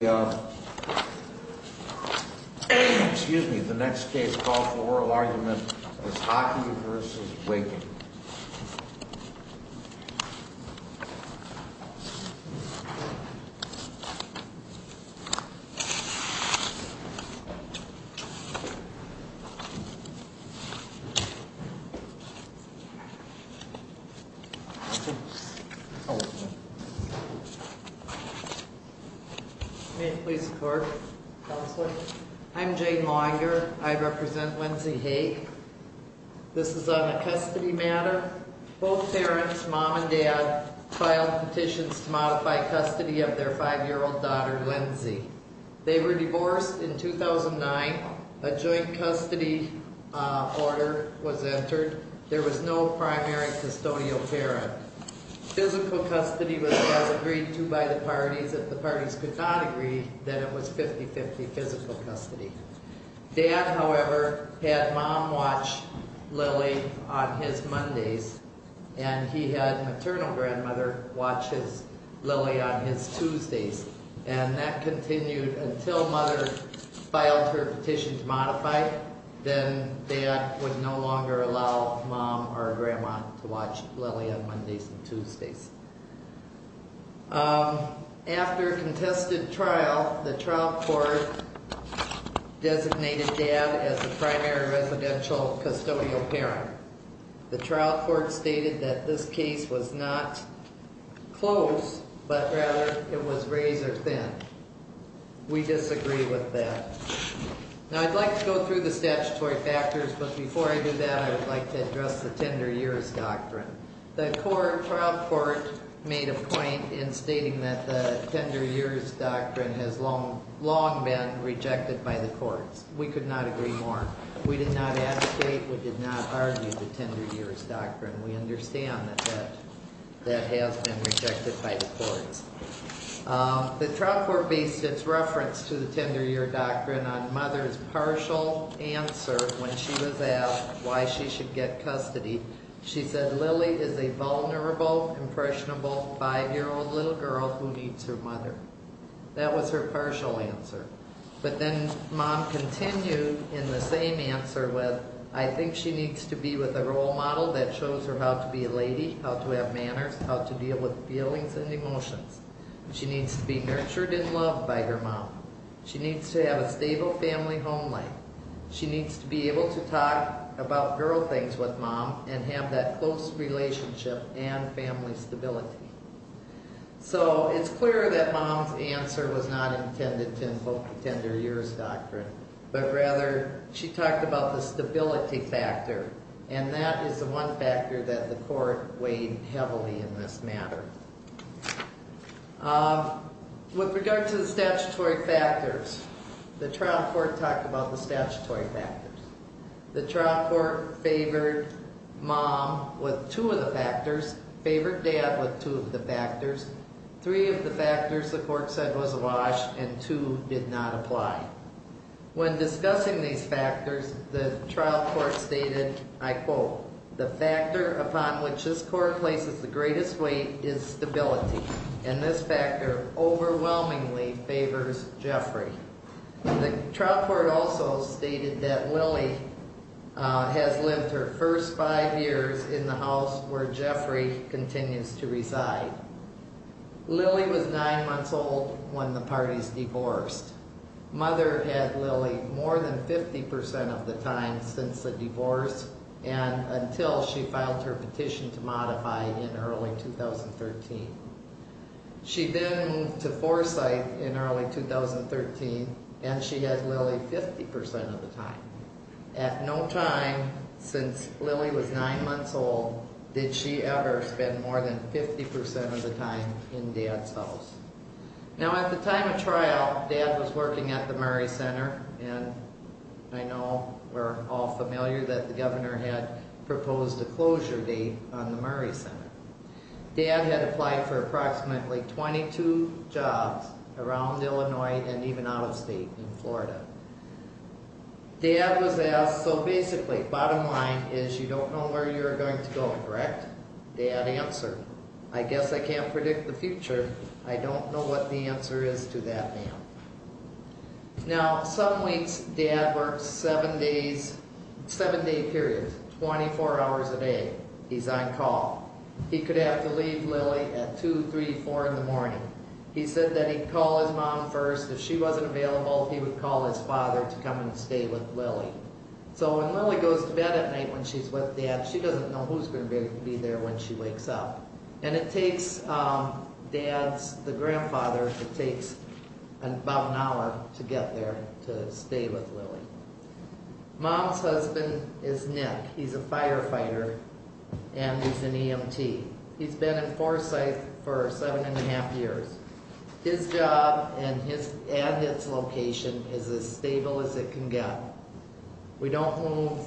Excuse me, the next case called for oral argument is Haake v. Wehking. May it please the court. Counselor. I'm Jane Longer. I represent Lindsey Haake. This is on a custody matter. Both parents, mom and dad, filed petitions to modify custody of their 5-year-old daughter, Lindsey. They were divorced in 2009. A joint custody order was entered. There was no primary custodial parent. Physical custody was agreed to by the parties. If the parties could not agree, then it was 50-50 physical custody. Dad, however, had mom watch Lily on his Mondays, and he had maternal grandmother watch his Lily on his Tuesdays. And that continued until mother filed her petition to modify. Then dad would no longer allow mom or grandma to watch Lily on Mondays and Tuesdays. After a contested trial, the trial court designated dad as the primary residential custodial parent. The trial court stated that this case was not close, but rather it was razor thin. We disagree with that. Now, I'd like to go through the statutory factors, but before I do that, I would like to address the tender years doctrine. The trial court made a point in stating that the tender years doctrine has long been rejected by the courts. We could not agree more. We did not advocate, we did not argue the tender years doctrine. We understand that that has been rejected by the courts. The trial court based its reference to the tender years doctrine on mother's partial answer when she was asked why she should get custody. She said, Lily is a vulnerable, impressionable, 5-year-old little girl who needs her mother. That was her partial answer. But then mom continued in the same answer with, I think she needs to be with a role model that shows her how to be a lady, how to have manners, how to deal with feelings and emotions. She needs to be nurtured and loved by her mom. She needs to have a stable family home life. She needs to be able to talk about girl things with mom and have that close relationship and family stability. So it's clear that mom's answer was not intended to invoke the tender years doctrine, but rather she talked about the stability factor, and that is the one factor that the court weighed heavily in this matter. With regard to the statutory factors, the trial court talked about the statutory factors. The trial court favored mom with two of the factors, favored dad with two of the factors, three of the factors the court said was a wash, and two did not apply. When discussing these factors, the trial court stated, I quote, the factor upon which this court places the greatest weight is stability, and this factor overwhelmingly favors Jeffrey. The trial court also stated that Lily has lived her first five years in the house where Jeffrey continues to reside. Lily was nine months old when the parties divorced. Mother had Lily more than 50% of the time since the divorce and until she filed her petition to modify in early 2013. She then moved to Foresight in early 2013, and she had Lily 50% of the time. At no time since Lily was nine months old did she ever spend more than 50% of the time in dad's house. Now at the time of trial, dad was working at the Murray Center, and I know we're all familiar that the governor had proposed a closure date on the Murray Center. Dad had applied for approximately 22 jobs around Illinois and even out of state in Florida. Dad was asked, so basically bottom line is you don't know where you're going to go, correct? Dad answered, I guess I can't predict the future. I don't know what the answer is to that, ma'am. Now some weeks dad works seven days, seven day period, 24 hours a day. He's on call. He could have to leave Lily at 2, 3, 4 in the morning. He said that he'd call his mom first. If she wasn't available, he would call his father to come and stay with Lily. So when Lily goes to bed at night when she's with dad, she doesn't know who's going to be there when she wakes up. And it takes dad's, the grandfather, it takes about an hour to get there to stay with Lily. Mom's husband is Nick. He's a firefighter and he's an EMT. He's been in Forsyth for seven and a half years. His job and his, and his location is as stable as it can get. We don't move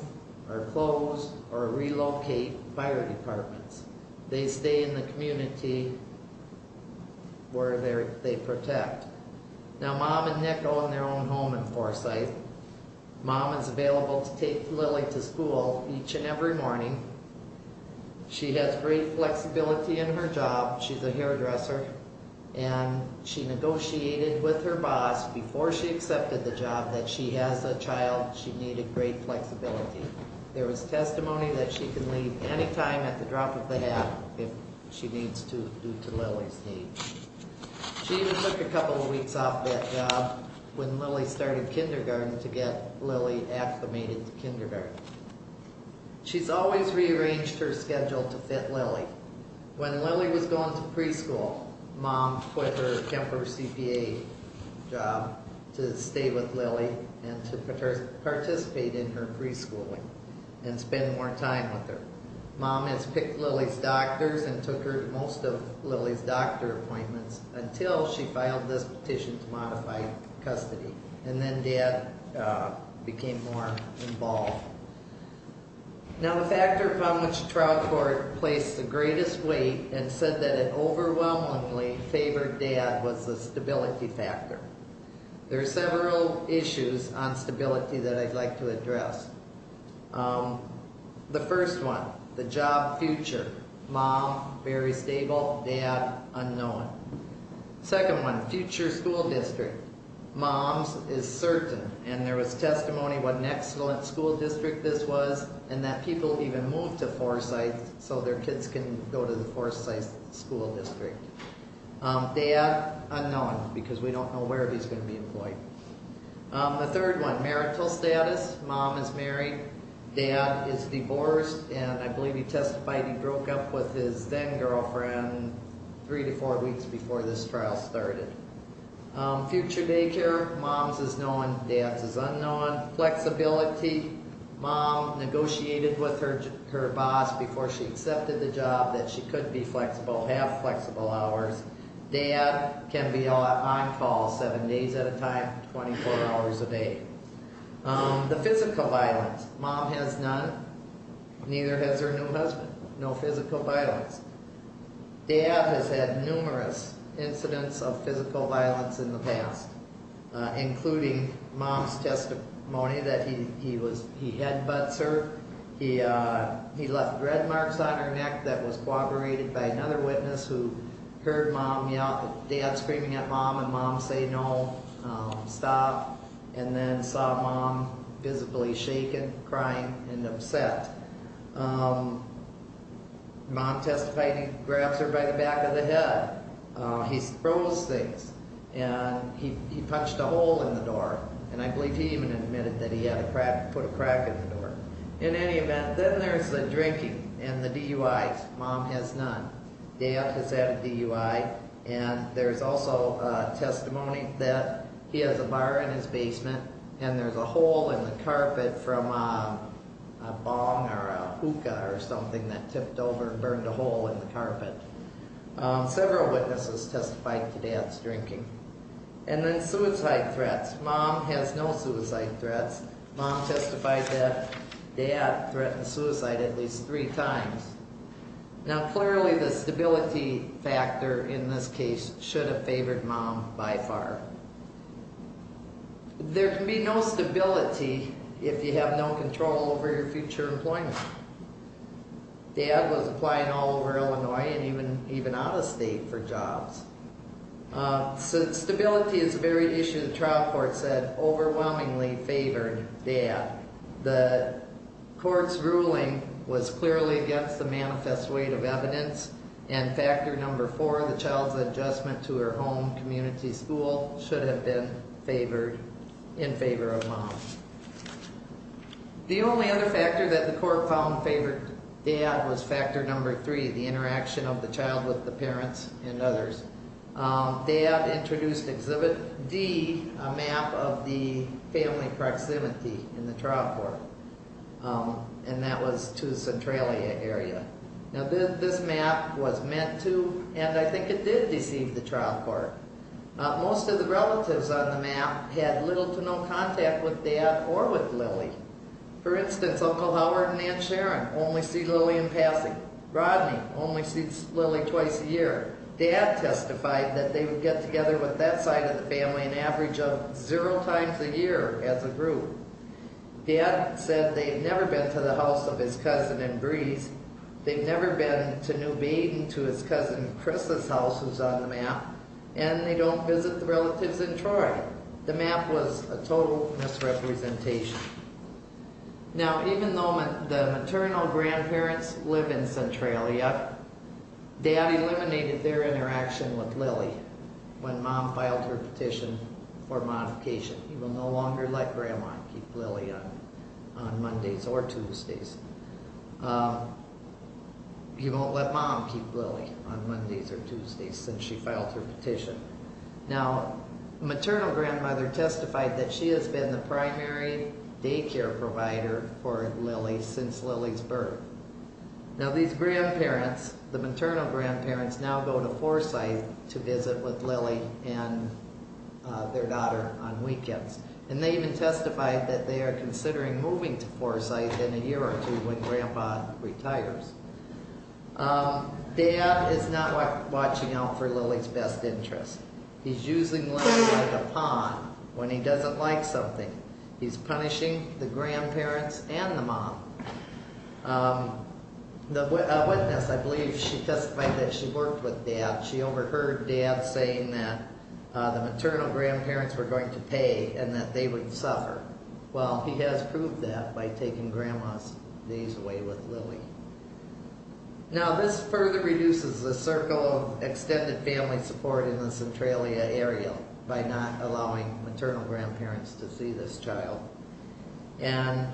or close or relocate fire departments. They stay in the community where they're, they protect. Now mom and Nick own their own home in Forsyth. Mom is available to take Lily to school each and every morning. She has great flexibility in her job. She's a hairdresser and she negotiated with her boss before she accepted the job that she has a child. She needed great flexibility. There was testimony that she can leave anytime at the drop of a hat if she needs to due to Lily's needs. She even took a couple of weeks off that job when Lily started kindergarten to get Lily acclimated to kindergarten. She's always rearranged her schedule to fit Lily. When Lily was going to preschool, mom quit her temporary CPA job to stay with Lily and to participate in her preschool and spend more time with her. Mom has picked Lily's doctors and took her to most of Lily's doctor appointments until she filed this petition to modify custody. And then dad became more involved. Now the factor upon which trial court placed the greatest weight and said that it overwhelmingly favored dad was the stability factor. There are several issues on stability that I'd like to address. The first one, the job future. Mom, very stable. Dad, unknown. Second one, future school district. Mom's is certain and there was testimony what an excellent school district this was and that people even moved to Forsyth so their kids can go to the Forsyth school district. Dad, unknown because we don't know where he's going to be employed. The third one, marital status. Mom is married. Dad is divorced and I believe he testified he broke up with his then girlfriend three to four weeks before this trial started. Future daycare. Mom's is known, dad's is unknown. Flexibility. Mom negotiated with her boss before she accepted the job that she could be flexible, have flexible hours. Dad can be on call seven days at a time, 24 hours a day. The physical violence. Mom has none, neither has her new husband. No physical violence. Dad has had numerous incidents of physical violence in the past, including mom's testimony that he was, he headbutts her. He, uh, he left red marks on her neck that was corroborated by another witness who heard mom yell, dad screaming at mom and mom say no, stop. And then saw mom visibly shaken, crying and upset. Um, mom testified he grabs her by the back of the head. Uh, he throws things and he, he punched a hole in the door and I believe he even admitted that he had a crack, put a crack in the door. In any event, then there's the drinking and the DUIs. Mom has none. Dad has had a DUI and there's also a testimony that he has a bar in his basement and there's a hole in the carpet from a bong or a hookah or something that tipped over and burned a hole in the carpet. Um, several witnesses testified to dad's drinking. And then suicide threats. Mom has no suicide threats. Mom testified that dad threatened suicide at least three times. Now clearly the stability factor in this case should have favored mom by far. There can be no stability if you have no control over your future employment. Dad was applying all over Illinois and even, even out of state for jobs. Um, so stability is a very issue the trial court said overwhelmingly favored dad. The court's ruling was clearly against the manifest weight of evidence and factor number four, the child's adjustment to her home community school should have been favored, in favor of mom. The only other factor that the court found favored dad was factor number three, the interaction of the child with the parents and others. Um, dad introduced exhibit D, a map of the family proximity in the trial court. Um, and that was to Centralia area. Now this map was meant to and I think it did deceive the trial court. Most of the relatives on the map had little to no contact with dad or with Lily. For instance, Uncle Howard and Aunt Sharon only see Lily in passing. Rodney only sees Lily twice a year. Dad testified that they would get together with that side of the family an average of zero times a year as a group. Dad said they had never been to the house of his cousin in Breeze. They've never been to New Baden to his cousin Chris's house who's on the map and they don't visit the relatives in Troy. The map was a total misrepresentation. Now even though the maternal grandparents live in Centralia, dad eliminated their interaction with Lily when mom filed her petition for modification. He will no longer let grandma keep Lily on Mondays or Tuesdays. Um, he won't let mom keep Lily on Mondays or Tuesdays since she filed her petition. Now maternal grandmother testified that she has been the primary daycare provider for Lily since Lily's birth. Now these grandparents, the maternal grandparents now go to Forsyth to visit with Lily and their daughter on weekends. And they even testified that they are considering moving to Forsyth in a year or two when grandpa retires. Um, dad is not watching out for Lily's best interests. He's using Lily like a pawn when he doesn't like something. He's punishing the grandparents and the mom. Um, the witness I believe she testified that she worked with dad. She overheard dad saying that the maternal grandparents were going to pay and that they would suffer. Well, he has proved that by taking grandma's days away with Lily. Now this further reduces the circle of extended family support in the Centralia area by not allowing maternal grandparents to see this child. And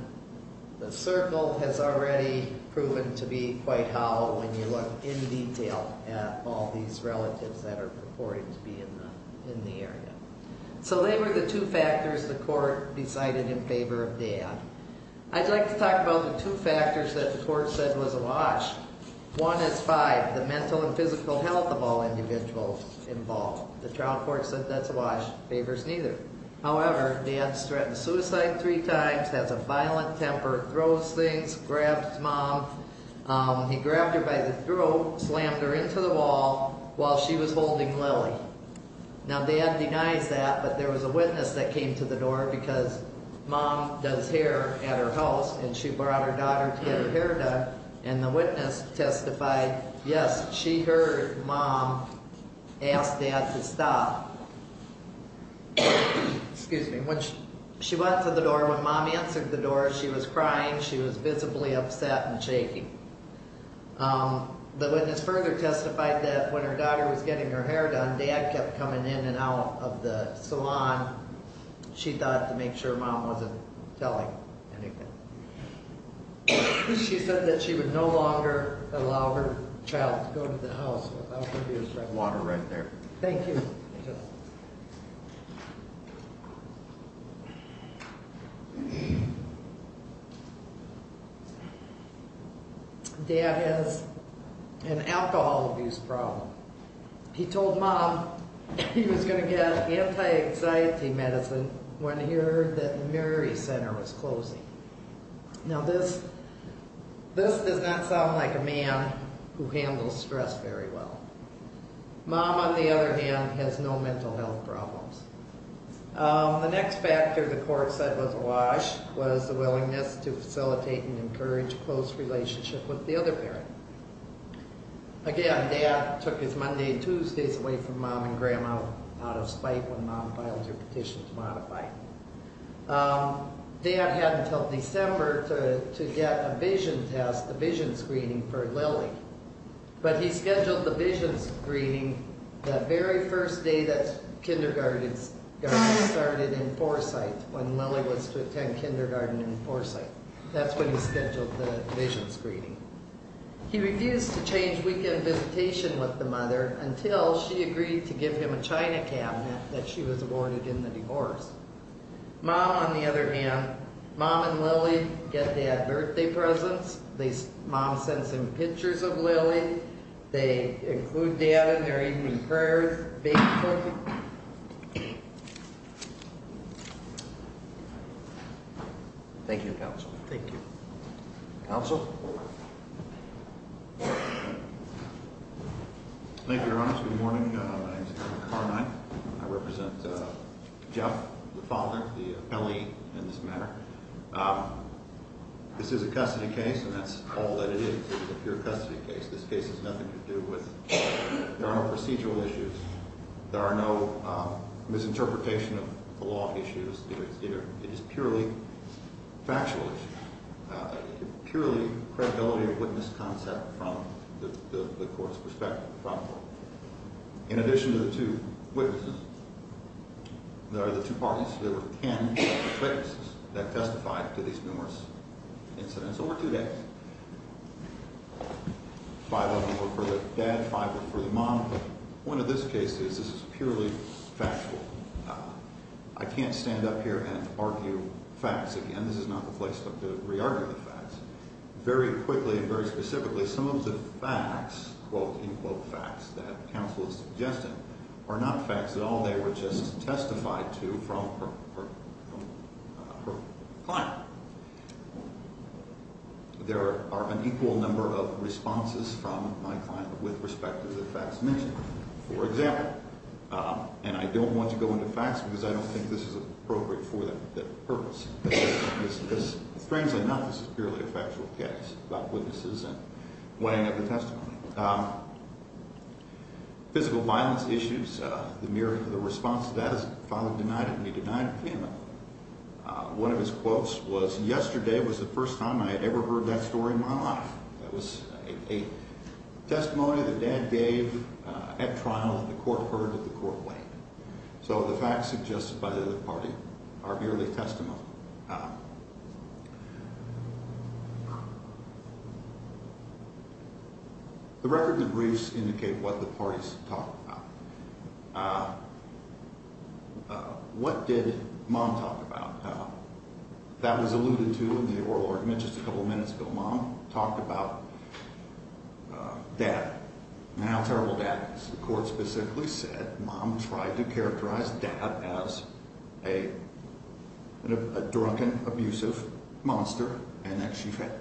the circle has already proven to be quite hollow when you look in detail at all these relatives that are purporting to be in the area. So they were the two factors the court decided in favor of dad. I'd like to talk about the two factors that the court said was awash. One is five, the mental and physical health of all individuals involved. The trial court said that's awash. Favors neither. However, dad's threatened suicide three times, has a violent temper, throws things, grabs mom. Um, he grabbed her by the throat, slammed her into the wall while she was holding Lily. Now dad denies that, but there was a witness that came to the door because mom does hair at her house and she brought her daughter to get her hair done. And the witness testified, yes, she heard mom ask dad to stop. Excuse me. When she went to the door, when mom answered the door, she was crying, she was visibly upset and shaking. Um, the witness further testified that when her daughter was getting her hair done, dad kept coming in and out of the salon. She thought to make sure mom wasn't telling anything. She said that she would no longer allow her child to go to the house without her. Water right there. Thank you. Dad has an alcohol abuse problem. He told mom he was going to get anti-anxiety medicine when he heard that Mary's center was closing. Now this, this does not sound like a man who handles stress very well. Mom, on the other hand, has no mental health problems. Um, the next factor the court said was awash was the willingness to facilitate and encourage close relationship with the other parent. Again, dad took his Monday and Tuesdays away from mom and grandma out of spite when mom filed her petition to modify. Um, dad had until December to get a vision test, a vision screening for Lily. But he scheduled the vision screening the very first day that kindergarten started in Foresight, when Lily was to attend kindergarten in Foresight. That's when he scheduled the vision screening. He refused to change weekend visitation with the mother until she agreed to give him a China cabinet that she was awarded in the divorce. Mom, on the other hand, mom and Lily get dad birthday presents. Mom sends him pictures of Lily. They include dad in their evening prayers basically. Thank you. Thank you. Also, thank you. Good morning. I represent Jeff, the father, the belly in this matter. Um, this is a custody case, and that's all that it is. If you're a custody case, this case is nothing to do with there are no procedural issues. There are no misinterpretation of the law issues here. It is purely factual, purely credibility of witness concept from the court's perspective. In addition to the two witnesses, there are the two parties. There were 10 witnesses that testified to these numerous incidents over two days. Five of them were for the dad, five were for the mom. The point of this case is this is purely factual. I can't stand up here and argue facts again. This is not the place to re-argue the facts. Very quickly and very specifically, some of the facts, quote-unquote facts, that counsel is suggesting are not facts at all. They were just testified to from her client. There are an equal number of responses from my client with respect to the facts mentioned, for example. And I don't want to go into facts because I don't think this is appropriate for that purpose. Strangely enough, this is purely a factual case about witnesses and weighing up the testimony. Physical violence issues, the myriad of the responses. Dad's father denied it and he denied it. One of his quotes was, yesterday was the first time I ever heard that story in my life. That was a testimony that dad gave at trial and the court heard it and the court weighed it. So the facts suggested by the other party are merely testimony. The record and the briefs indicate what the parties talked about. What did mom talk about? That was alluded to in the oral argument just a couple of minutes ago. Mom talked about dad. How terrible dad is. The court specifically said mom tried to characterize dad as a drunken, abusive monster and that she fed him.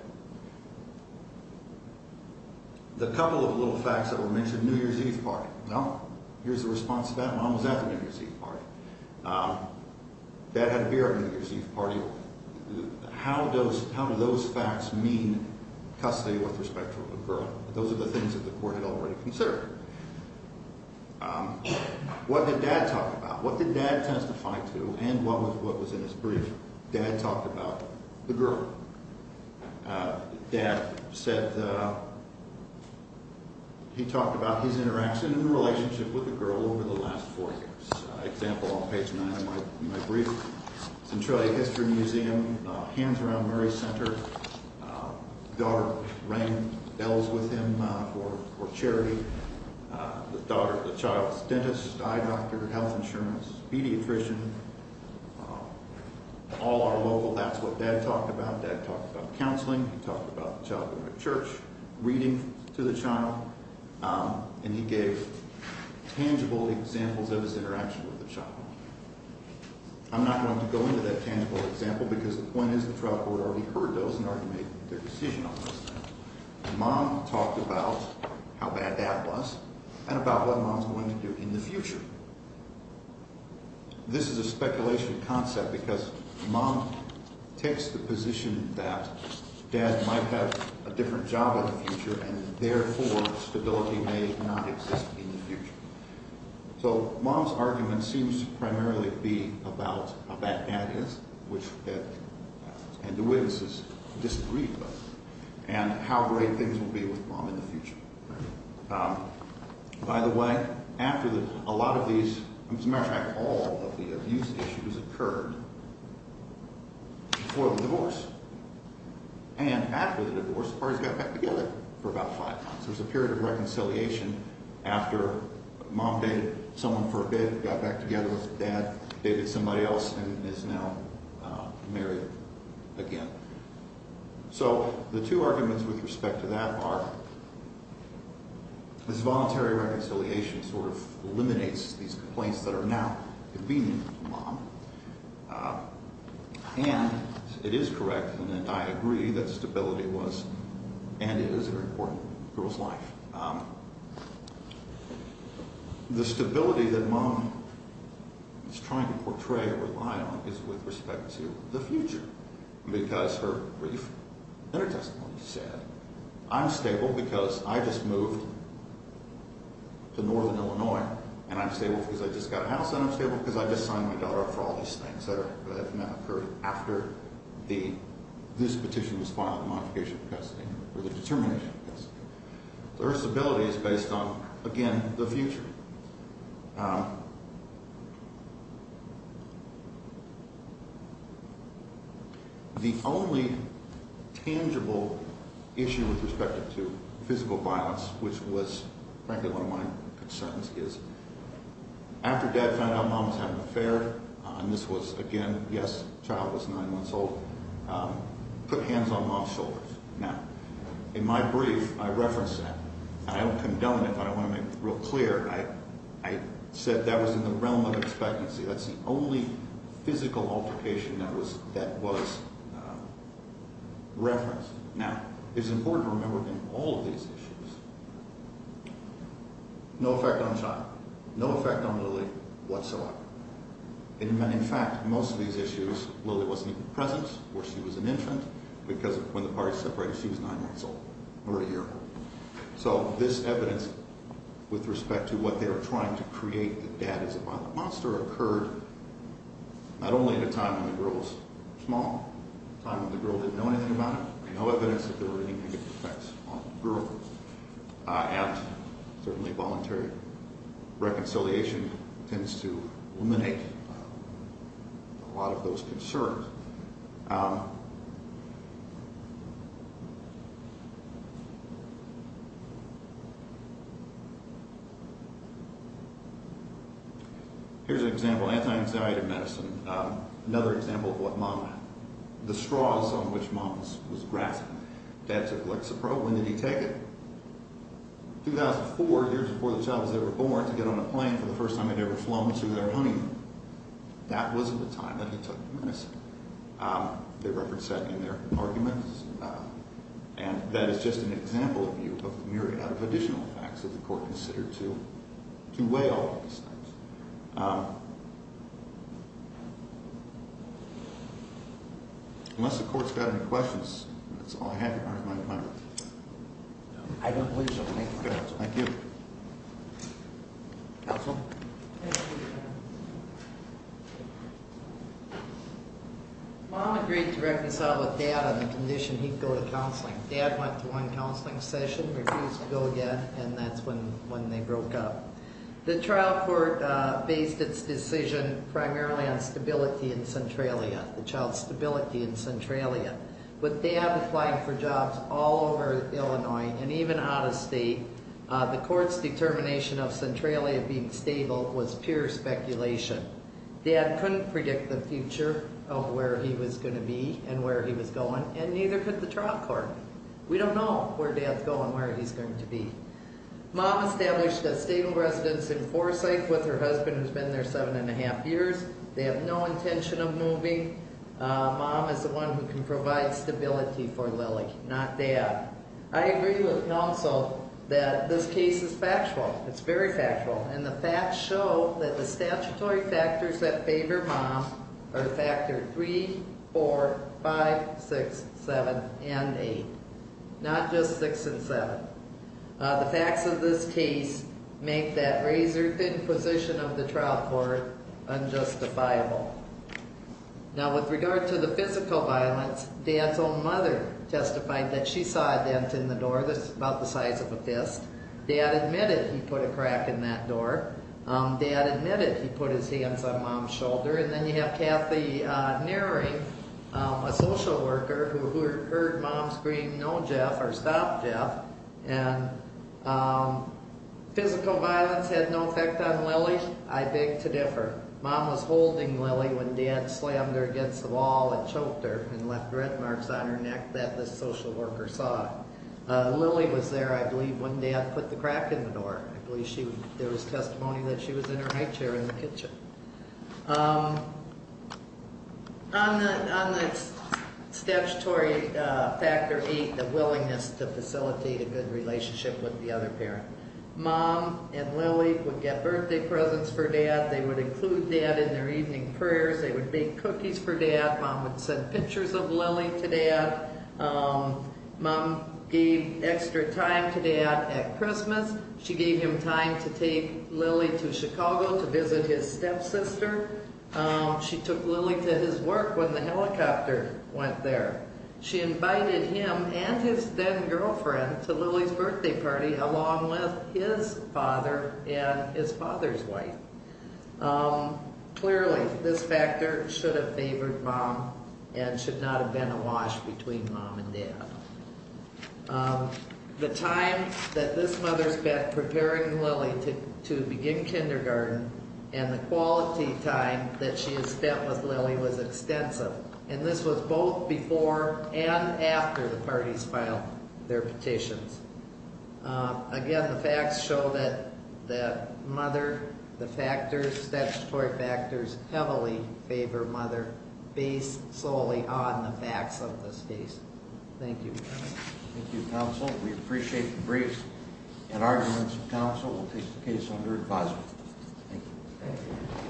The couple of little facts that were mentioned, New Year's Eve party. Well, here's the response to that. Mom was at the New Year's Eve party. Dad had a beer at the New Year's Eve party. How do those facts mean custody with respect to a little girl? Those are the things that the court had already considered. What did dad talk about? What did dad testify to and what was in his brief? Dad talked about the girl. He talked about his interaction and relationship with the girl over the last four years. Example on page 9 of my brief. Centralia History Museum, Hands Around Murray Center. Daughter rang bells with him for charity. The child's dentist, eye doctor, health insurance, pediatrician, all are local. That's what dad talked about. Dad talked about counseling. He talked about the child going to church, reading to the child. And he gave tangible examples of his interaction with the child. I'm not going to go into that tangible example because the point is the trial court already heard those and already made their decision on those things. Mom talked about how bad dad was and about what mom's going to do in the future. This is a speculation concept because mom takes the position that dad might have a different job in the future and therefore stability may not exist in the future. So mom's argument seems to primarily be about how bad dad is and the witnesses disagree with that and how great things will be with mom in the future. By the way, after a lot of these, as a matter of fact, all of the abuse issues occurred before the divorce and after the divorce the parties got back together for about five months. There was a period of reconciliation after mom dated someone for a bit, got back together with dad, dated somebody else, and is now married again. So the two arguments with respect to that are this voluntary reconciliation sort of eliminates these complaints that are now convenient to mom. And it is correct and I agree that stability was and is a very important part of a girl's life. The stability that mom is trying to portray or rely on is with respect to the future because her brief inter-testimony said I'm stable because I just moved to northern Illinois and I'm stable because I just got a house and I'm stable because I just signed my daughter up for all these things that have now occurred after this petition was filed, the modification of custody or the determination of custody. So her stability is based on, again, the future. The only tangible issue with respect to physical violence, which was frankly one of my concerns, is after dad found out mom was having an affair, and this was, again, yes, the child was nine months old, put hands on mom's shoulders. Now, in my brief, I referenced that, and I don't condone it, but I want to make it real clear. I said that was in the realm of expectancy. That's the only physical altercation that was referenced. Now, it's important to remember that in all of these issues, no effect on the child, no effect on Lily whatsoever. In fact, most of these issues, Lily wasn't even present or she was an infant because when the parties separated, she was nine months old or a year old. So this evidence with respect to what they were trying to create that dad is a violent monster occurred not only at a time when the girl was small, a time when the girl didn't know anything about it, no evidence that there were any negative effects on the girl at, certainly voluntary, reconciliation tends to eliminate a lot of those concerns. Here's an example, anti-anxiety medicine. Another example of what mom, the straws on which mom was grasping. Dad took Lexapro. When did he take it? 2004, years before the child was ever born, to get on a plane for the first time they'd ever flown to their honeymoon. That wasn't the time that he took the medicine. The record said in their arguments, and that is just an example of the myriad of additional facts that the court considered to weigh all of these things. Unless the court's got any questions, that's all I have. I don't believe so. Thank you. Mom agreed to reconcile with dad on the condition he'd go to counseling. Dad went to one counseling session, refused to go again, and that's when they broke up. The trial court based its decision primarily on stability in Centralia, the child's stability in Centralia. But dad applied for jobs all over Illinois and even out of state. The court's determination of Centralia being stable was pure speculation. Dad couldn't predict the future of where he was going to be and where he was going, and neither could the trial court. We don't know where dad's going, where he's going to be. Mom established a stable residence in Forsyth with her husband, who's been there seven and a half years. They have no intention of moving. Mom is the one who can provide stability for Lily, not dad. I agree with Nelson that this case is factual. It's very factual. And the facts show that the statutory factors that favor mom are factor 3, 4, 5, 6, 7, and 8, not just 6 and 7. The facts of this case make that razor-thin position of the trial court unjustifiable. Now, with regard to the physical violence, dad's own mother testified that she saw a dent in the door that's about the size of a fist. Dad admitted he put a crack in that door. Dad admitted he put his hands on mom's shoulder. And then you have Kathy Nearing, a social worker, who heard mom scream, no, Jeff, or stop Jeff. And physical violence had no effect on Lily. I beg to differ. Mom was holding Lily when dad slammed her against the wall and choked her and left red marks on her neck that the social worker saw. Lily was there, I believe, when dad put the crack in the door. I believe there was testimony that she was in her high chair in the kitchen. On the statutory factor 8, the willingness to facilitate a good relationship with the other parent, mom and Lily would get birthday presents for dad. They would include dad in their evening prayers. They would bake cookies for dad. Mom would send pictures of Lily to dad. Mom gave extra time to dad at Christmas. She gave him time to take Lily to Chicago to visit his stepsister. She took Lily to his work when the helicopter went there. She invited him and his then-girlfriend to Lily's birthday party along with his father and his father's wife. Clearly, this factor should have favored mom and should not have been a wash between mom and dad. The time that this mother spent preparing Lily to begin kindergarten and the quality time that she had spent with Lily was extensive. This was both before and after the parties filed their petitions. Again, the facts show that the statutory factors heavily favor mother based solely on the facts of this case. Thank you. Thank you, counsel. We appreciate the briefs and arguments. Counsel will take the case under advisement. Thank you.